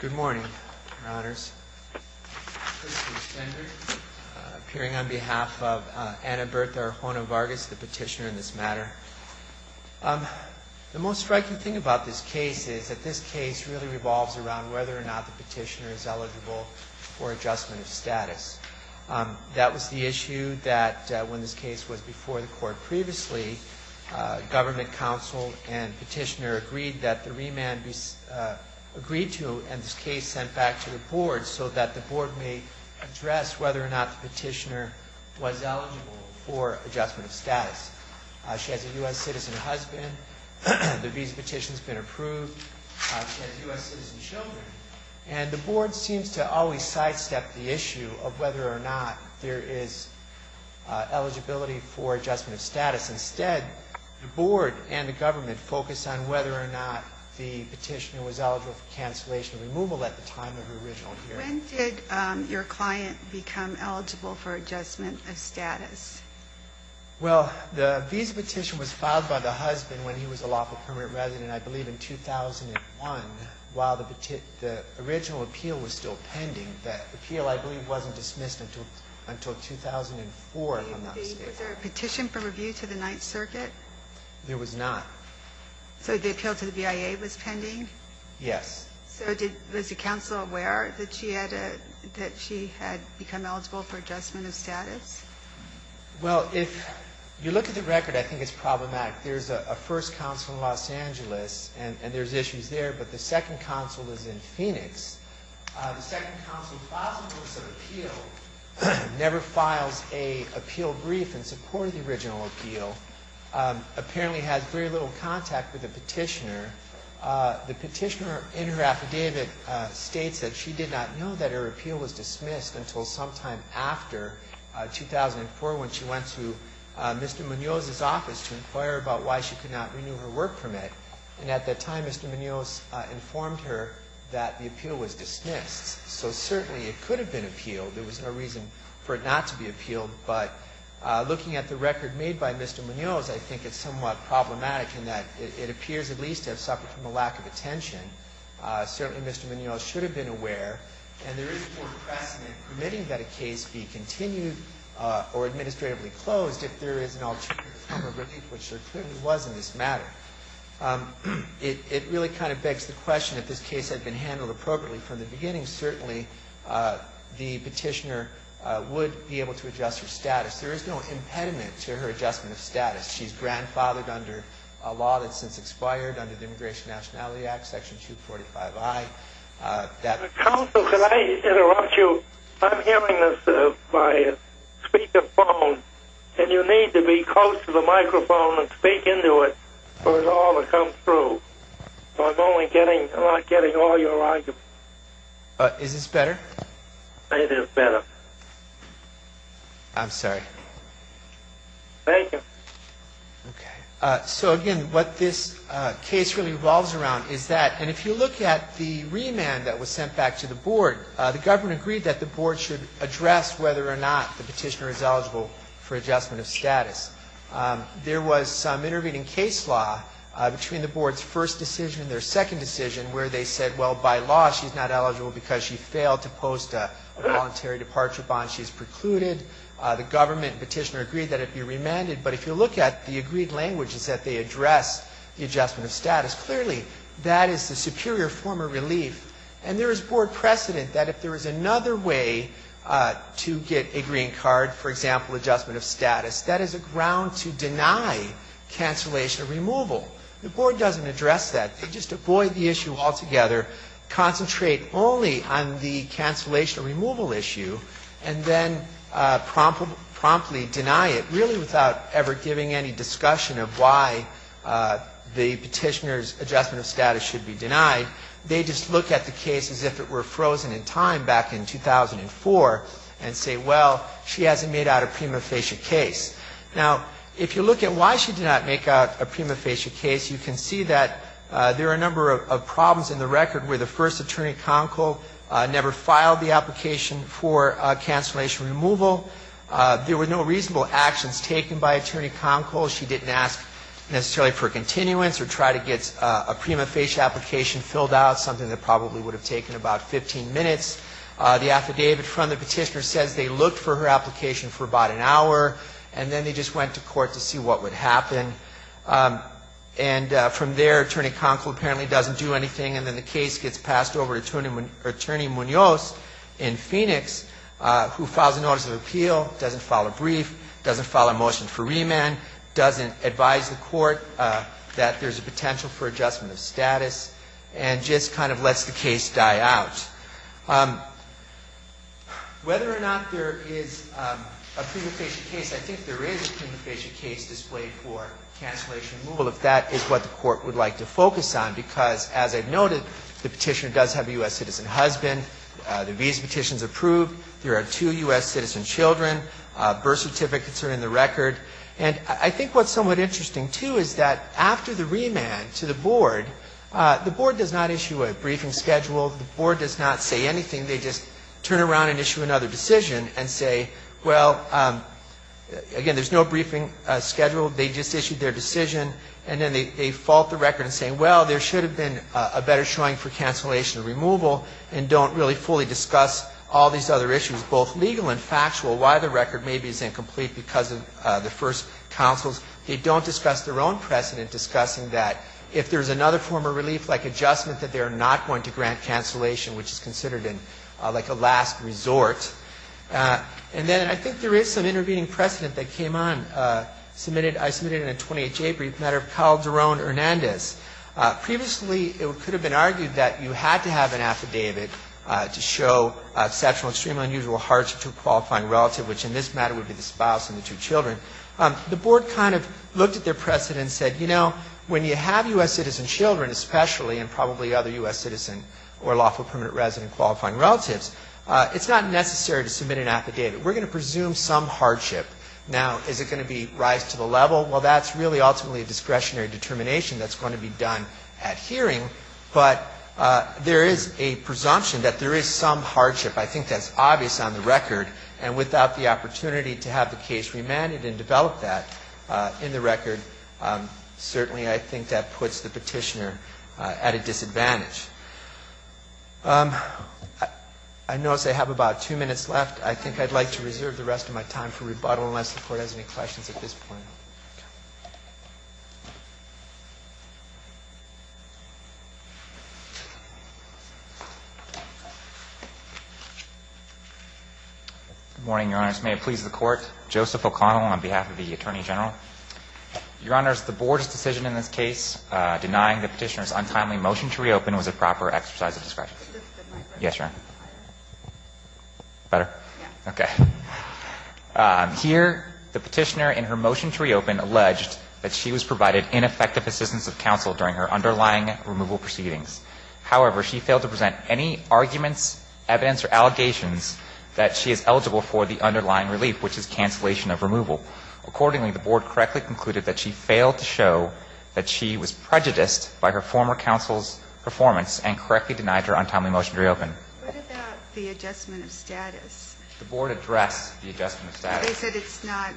Good morning, Your Honors. Christopher Stender, appearing on behalf of Anna Bertha Arjona-Vargas, the petitioner in this matter. The most striking thing about this case is that this case really revolves around whether or not the petitioner is eligible for adjustment of status. That was the issue that, when this case was before the Court previously, government counsel and petitioner agreed that the remand be agreed to and this case sent back to the Board so that the Board may address whether or not the petitioner was eligible for adjustment of status. She has a U.S. citizen husband. The visa petition has been approved. She has U.S. citizen children. And the Board seems to always sidestep the issue of whether or not there is eligibility for adjustment of status. Instead, the Board and the government focus on whether or not the petitioner was eligible for cancellation or removal at the time of her original hearing. When did your client become eligible for adjustment of status? Well, the visa petition was filed by the husband when he was a lawful permanent resident, I believe, in 2001, while the original appeal was still pending. That appeal, I believe, wasn't dismissed until 2004, if I'm not mistaken. Was there a petition for review to the Ninth Circuit? There was not. So the appeal to the BIA was pending? Yes. So was the counsel aware that she had become eligible for adjustment of status? Well, if you look at the record, I think it's problematic. There's a first counsel in Los Angeles, and there's issues there, but the second counsel is in Phoenix. The second counsel filed for some appeal, never files an appeal brief in support of the original appeal, apparently has very little contact with the petitioner. The petitioner in her affidavit states that she did not know that her appeal was dismissed until sometime after 2004 when she went to Mr. Munoz's office to inquire about why she could not renew her work permit. And at that time, Mr. Munoz informed her that the appeal was dismissed. So certainly it could have been appealed. There was no reason for it not to be appealed. But looking at the record made by Mr. Munoz, I think it's somewhat problematic in that it appears at least to have suffered from a lack of attention. Certainly Mr. Munoz should have been aware. And there is more precedent permitting that a case be continued or administratively closed if there is an alternative form of relief, which there clearly was in this matter. It really kind of begs the question, if this case had been handled appropriately from the beginning, then certainly the petitioner would be able to adjust her status. There is no impediment to her adjustment of status. She's grandfathered under a law that's since expired under the Immigration Nationality Act, Section 245I. Counsel, could I interrupt you? I'm hearing this by speakerphone, and you need to be close to the microphone and speak into it for it all to come through. I'm only getting all your arguments. Is this better? It is better. I'm sorry. Thank you. Okay. So again, what this case really revolves around is that, and if you look at the remand that was sent back to the Board, the government agreed that the Board should address whether or not the petitioner is eligible for adjustment of status. There was some intervening case law between the Board's first decision and their second decision where they said, well, by law, she's not eligible because she failed to post a voluntary departure bond. She's precluded. The government and petitioner agreed that it be remanded, but if you look at the agreed languages that they addressed the adjustment of status, clearly that is the superior form of relief. And there is Board precedent that if there is another way to get a green card, for example, adjustment of status, that is a ground to deny cancellation or removal. The Board doesn't address that. They just avoid the issue altogether, concentrate only on the cancellation or removal issue, and then promptly deny it, really without ever giving any discussion of why the petitioner's adjustment of status should be denied. They just look at the case as if it were frozen in time back in 2004 and say, well, she hasn't made out a prima facie case. Now, if you look at why she did not make out a prima facie case, you can see that there are a number of problems in the record where the first attorney concol never filed the application for cancellation or removal. There were no reasonable actions taken by attorney concol. She didn't ask necessarily for continuance or try to get a prima facie application filled out, something that probably would have taken about 15 minutes. The affidavit from the petitioner says they looked for her application for about an hour, and then they just went to court to see what would happen. And from there, attorney concol apparently doesn't do anything, and then the case gets passed over to attorney Munoz in Phoenix, who files a notice of appeal, doesn't file a brief, doesn't file a motion for remand, doesn't advise the court that there's a potential for adjustment of status, and just kind of lets the case die out. Whether or not there is a prima facie case, I think there is a prima facie case displayed for cancellation or removal, if that is what the Court would like to focus on, because as I've noted, the petitioner does have a U.S. citizen husband. The visa petition is approved. There are two U.S. citizen children. Birth certificates are in the record. And I think what's somewhat interesting, too, is that after the remand to the board, the board does not issue a briefing schedule. The board does not say anything. They just turn around and issue another decision and say, well, again, there's no briefing schedule. They just issued their decision, and then they fault the record and say, well, there should have been a better showing for cancellation or removal, and don't really fully discuss all these other issues, both legal and factual, why the record maybe is incomplete because of the first counsels. They don't discuss their own precedent discussing that. If there is another form of relief, like adjustment, that they are not going to grant cancellation, which is considered like a last resort. And then I think there is some intervening precedent that came on. I submitted in a 20HA brief a matter of Calderon-Hernandez. Previously, it could have been argued that you had to have an affidavit to show exceptional, extremely unusual hardship to a qualifying relative, which in this matter would be the spouse and the two children. The Board kind of looked at their precedent and said, you know, when you have U.S. citizen children, especially and probably other U.S. citizen or lawful permanent resident qualifying relatives, it's not necessary to submit an affidavit. We're going to presume some hardship. Now, is it going to be rise to the level? Well, that's really ultimately a discretionary determination that's going to be done at hearing, but there is a presumption that there is some hardship. I think that's obvious on the record. And without the opportunity to have the case remanded and develop that in the record, certainly I think that puts the petitioner at a disadvantage. I notice I have about two minutes left. I think I'd like to reserve the rest of my time for rebuttal unless the Court has any questions at this point. Good morning, Your Honors. May it please the Court. Joseph O'Connell on behalf of the Attorney General. Your Honors, the Board's decision in this case denying the Petitioner's untimely motion to reopen was a proper exercise of discretion. Yes, Your Honor. Better? Okay. Here, the Petitioner in her motion to reopen alleged that she was provided ineffective assistance of counsel during her underlying removal proceedings. However, she failed to present any arguments, evidence, or allegations that she is eligible for the underlying relief, which is cancellation of removal. Accordingly, the Board correctly concluded that she failed to show that she was prejudiced by her former counsel's performance and correctly denied her untimely motion to reopen. What about the adjustment of status? The Board addressed the adjustment of status. They said it's not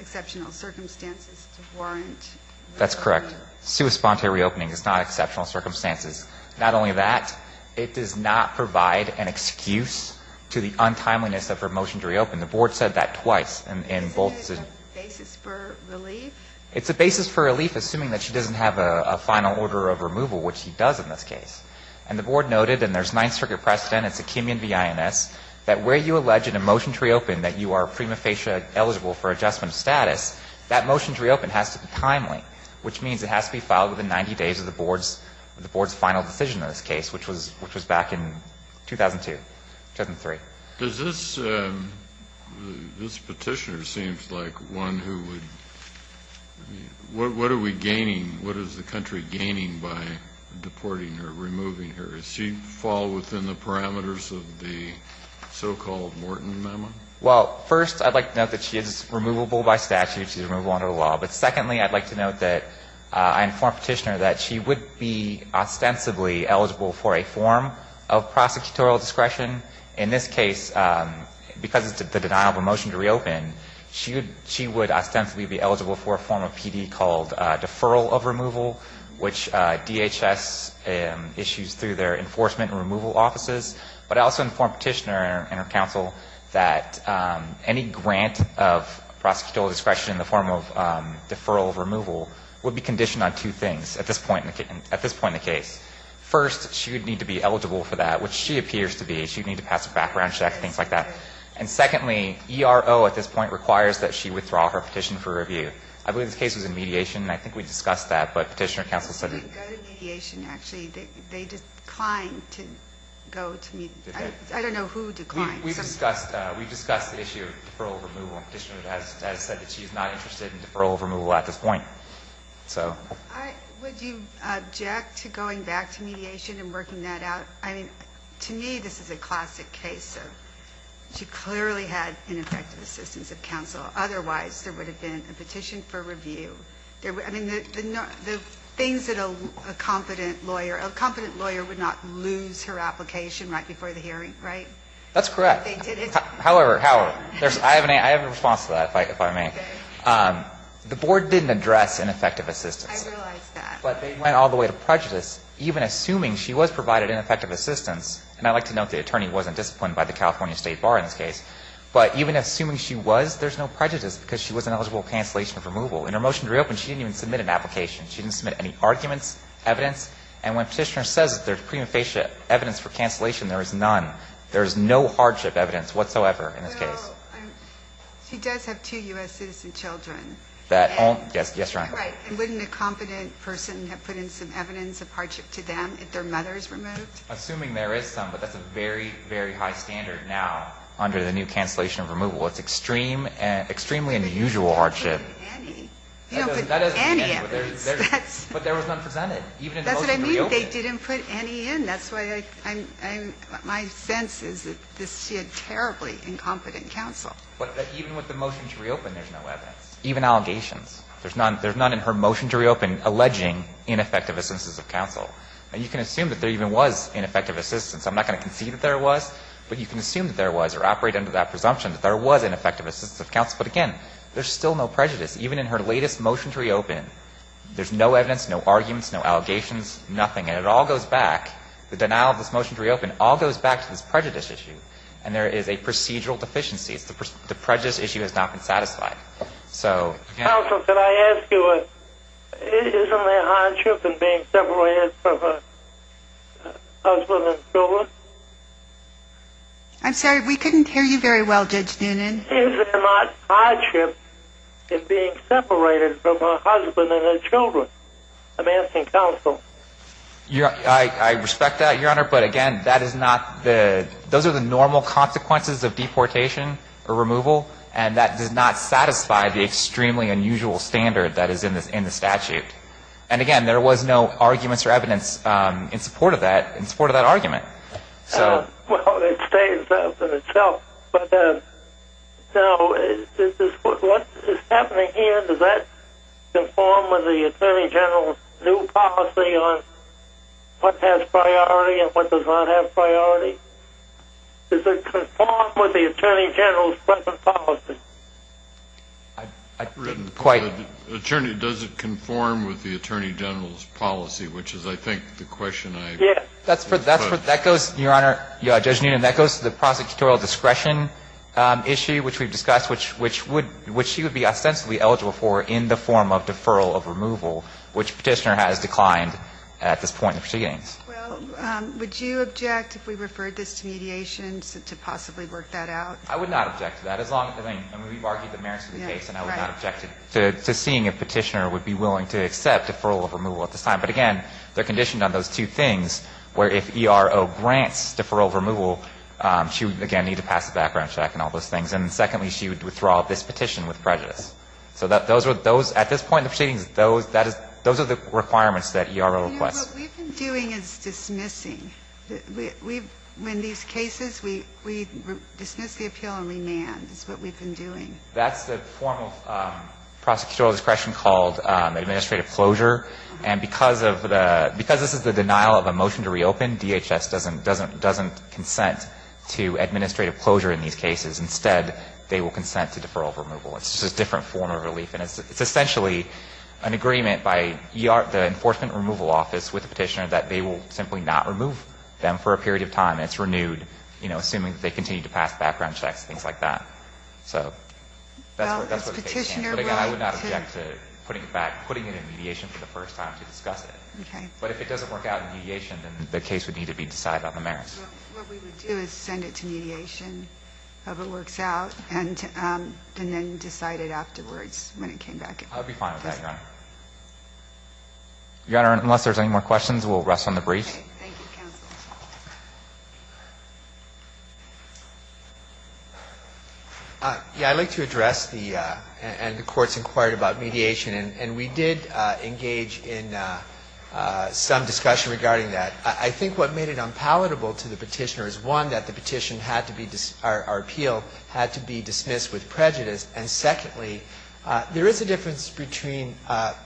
exceptional circumstances to warrant reopening. That's correct. Sui sponte reopening. It's not exceptional circumstances. Not only that, it does not provide an excuse to the untimeliness of her motion to reopen. The Board said that twice in both. Is it a basis for relief? It's a basis for relief, assuming that she doesn't have a final order of removal, which she does in this case. And the Board noted, and there's Ninth Circuit precedent, it's a Kimian v. INS, that where you allege in a motion to reopen that you are prima facie eligible for adjustment of status, that motion to reopen has to be timely, which means it has to be filed within 90 days of the Board's final decision in this case, which was back in 2002, 2003. Kennedy. This Petitioner seems like one who would be, what are we gaining? What is the country gaining by deporting her, removing her? Does she fall within the parameters of the so-called Morton memo? Well, first, I'd like to note that she is removable by statute. She's removable under the law. But secondly, I'd like to note that I informed Petitioner that she would be ostensibly eligible for a form of prosecutorial discretion. In this case, because it's the denial of a motion to reopen, she would ostensibly be eligible for a form of PD called deferral of removal, which DHS issues through their enforcement and removal offices. But I also informed Petitioner and her counsel that any grant of prosecutorial discretion in the form of deferral of removal would be conditioned on two things at this point in the case. First, she would need to be eligible for that, which she appears to be. She would need to pass a background check, things like that. And secondly, ERO at this point requires that she withdraw her petition for review. I believe this case was in mediation, and I think we discussed that, but Petitioner counsel said it. Ginsburg. I don't know who declined. We discussed the issue of deferral of removal, and Petitioner has said that she is not interested in deferral of removal at this point. So. Would you object to going back to mediation and working that out? I mean, to me, this is a classic case of she clearly had ineffective assistance of counsel. Otherwise, there would have been a petition for review. I mean, the things that a competent lawyer, a competent lawyer would not lose her application right before the hearing, right? That's correct. However, however, I have a response to that, if I may. The board didn't address ineffective assistance. I realize that. But they went all the way to prejudice, even assuming she was provided ineffective assistance. And I'd like to note the attorney wasn't disciplined by the California State Bar in this case. But even assuming she was, there's no prejudice because she was an eligible cancellation of removal. In her motion to reopen, she didn't even submit an application. She didn't submit any arguments, evidence. And when Petitioner says there's prima facie evidence for cancellation, there is none. There is no hardship evidence whatsoever in this case. Well, she does have two U.S. citizen children. Yes. Yes, Your Honor. And wouldn't a competent person have put in some evidence of hardship to them if their mother is removed? Assuming there is some, but that's a very, very high standard now under the new cancellation of removal. It's extreme, extremely unusual hardship. They didn't put any. They don't put any evidence. But there was none presented, even in the motion to reopen. That's what I mean. They didn't put any in. That's why I'm my sense is that she had terribly incompetent counsel. But even with the motion to reopen, there's no evidence. Even allegations. There's none in her motion to reopen alleging ineffective assistance of counsel. And you can assume that there even was ineffective assistance. I'm not going to concede that there was. But you can assume that there was or operate under that presumption that there was ineffective assistance of counsel. But again, there's still no prejudice. Even in her latest motion to reopen, there's no evidence, no arguments, no allegations, nothing. And it all goes back, the denial of this motion to reopen, all goes back to this prejudice issue. And there is a procedural deficiency. The prejudice issue has not been satisfied. So, again. Counsel, can I ask you, isn't there hardship in being separated from a husband and children? I'm sorry. We couldn't hear you very well, Judge Noonan. Isn't there hardship in being separated from a husband and children? I'm asking counsel. I respect that, Your Honor. But again, those are the normal consequences of deportation or removal. And that does not satisfy the extremely unusual standard that is in the statute. And again, there was no arguments or evidence in support of that argument. Well, it states that in itself. But, you know, what is happening here, does that conform with the Attorney General's new policy on what has priority and what does not have priority? Does it conform with the Attorney General's present policy? Does it conform with the Attorney General's policy, which is, I think, the question I Does it conform with the Attorney General's policy on what does not have priority? Well, that goes, Your Honor, Judge Noonan, that goes to the prosecutorial discretion issue, which we've discussed, which she would be ostensibly eligible for in the form of deferral of removal, which Petitioner has declined at this point in proceedings. Well, would you object if we referred this to mediation to possibly work that out? I would not object to that, as long as, I mean, we've argued the merits of the case and I would not object to seeing if Petitioner would be willing to accept deferral of removal at this time. But again, they're conditioned on those two things, where if ERO grants deferral of removal, she would, again, need to pass a background check and all those things. And secondly, she would withdraw this petition with prejudice. So those are those at this point in proceedings, those are the requirements that ERO requests. You know, what we've been doing is dismissing. We've, in these cases, we dismiss the appeal and remand. That's what we've been doing. That's the form of prosecutorial discretion called administrative closure. And because of the, because this is the denial of a motion to reopen, DHS doesn't consent to administrative closure in these cases. Instead, they will consent to deferral of removal. It's just a different form of relief. And it's essentially an agreement by the Enforcement Removal Office with Petitioner that they will simply not remove them for a period of time. It's renewed, you know, assuming that they continue to pass background checks and things like that. So that's what the case is. But again, I would not object to putting it back, putting it in mediation for the first time to discuss it. But if it doesn't work out in mediation, then the case would need to be decided on the merits. Well, what we would do is send it to mediation, hope it works out, and then decide it afterwards when it came back. I would be fine with that, Your Honor. Your Honor, unless there's any more questions, we'll rest on the brief. Okay. Thank you, counsel. Yeah. I'd like to address the, and the Court's inquiry about mediation. And we did engage in some discussion regarding that. I think what made it unpalatable to the Petitioner is, one, that the petition had to be, our appeal had to be dismissed with prejudice. And secondly, there is a difference between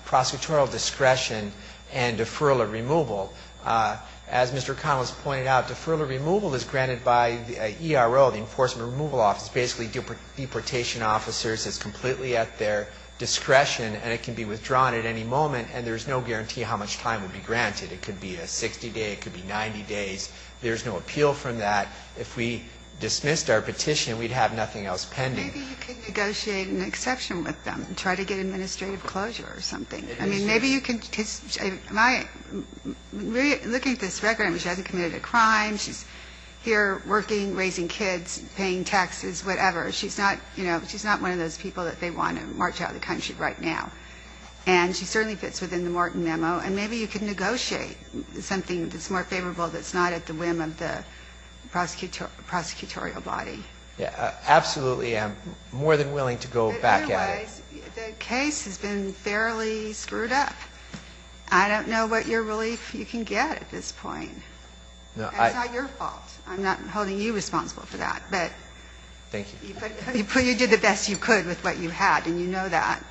prosecutorial discretion and deferral or removal. As Mr. Connell has pointed out, deferral or removal is granted by the ERO, the Enforcement Removal Office. It's basically deportation officers. It's completely at their discretion. And it can be withdrawn at any moment. And there's no guarantee how much time would be granted. It could be a 60-day. It could be 90 days. There's no appeal from that. If we dismissed our petition, we'd have nothing else pending. Maybe you could negotiate an exception with them and try to get administrative closure or something. I mean, maybe you could, because my, looking at this record, I mean, she hasn't committed a crime. She's here working, raising kids, paying taxes, whatever. She's not, you know, she's not one of those people that they want to march out of the country right now. And she certainly fits within the Morton Memo. And maybe you could negotiate something that's more favorable that's not at the whim of the prosecutorial body. Yeah, absolutely. I'm more than willing to go back at it. But anyways, the case has been fairly screwed up. I don't know what your relief you can get at this point. No, I don't. And it's not your fault. I'm not holding you responsible for that. Thank you. But you did the best you could with what you had, and you know that.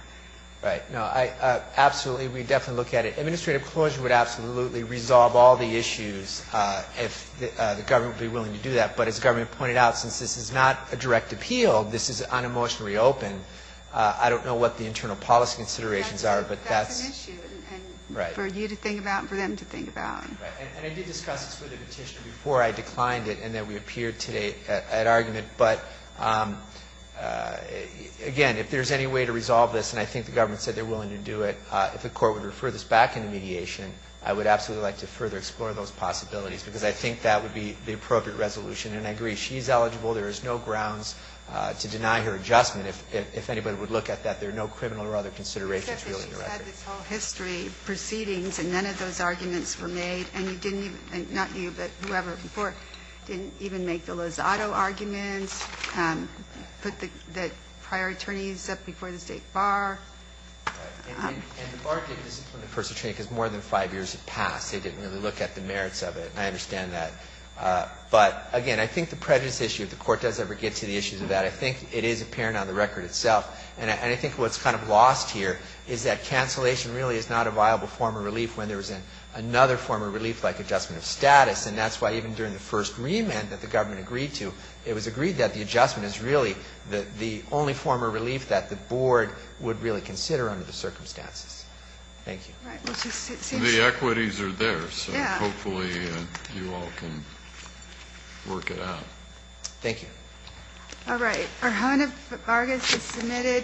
Right. No, I absolutely would definitely look at it. Administrative closure would absolutely resolve all the issues if the government would be willing to do that. But as the government pointed out, since this is not a direct appeal, this is an unemotionally open. I don't know what the internal policy considerations are, but that's an issue. Right. And for you to think about and for them to think about. Right. And I did discuss this with a petitioner before I declined it, and then we appeared today at argument. But again, if there's any way to resolve this, and I think the government said they're willing to do it, if the court would refer this back into mediation, I would absolutely like to further explore those possibilities, because I think that would be the appropriate resolution. And I agree. She's eligible. There is no grounds to deny her adjustment. If anybody would look at that, there are no criminal or other considerations really in the record. Except that she's had this whole history, proceedings, and none of those arguments were made. And you didn't even – not you, but whoever before – didn't even make the Lozado arguments, put the prior attorneys up before the State Bar. Right. And the Bar didn't discipline the person, because more than five years had passed. They didn't really look at the merits of it. I understand that. But, again, I think the prejudice issue, if the court does ever get to the issues of that, I think it is apparent on the record itself. And I think what's kind of lost here is that cancellation really is not a viable form of relief when there is another form of relief like adjustment of status. And that's why even during the first remand that the government agreed to, it was agreed that the adjustment is really the only form of relief that the board would really consider under the circumstances. Thank you. Right. We'll just sit here. The equities are there. Yeah. So hopefully you all can work it out. Thank you. All right. Arjona Vargas is submitted.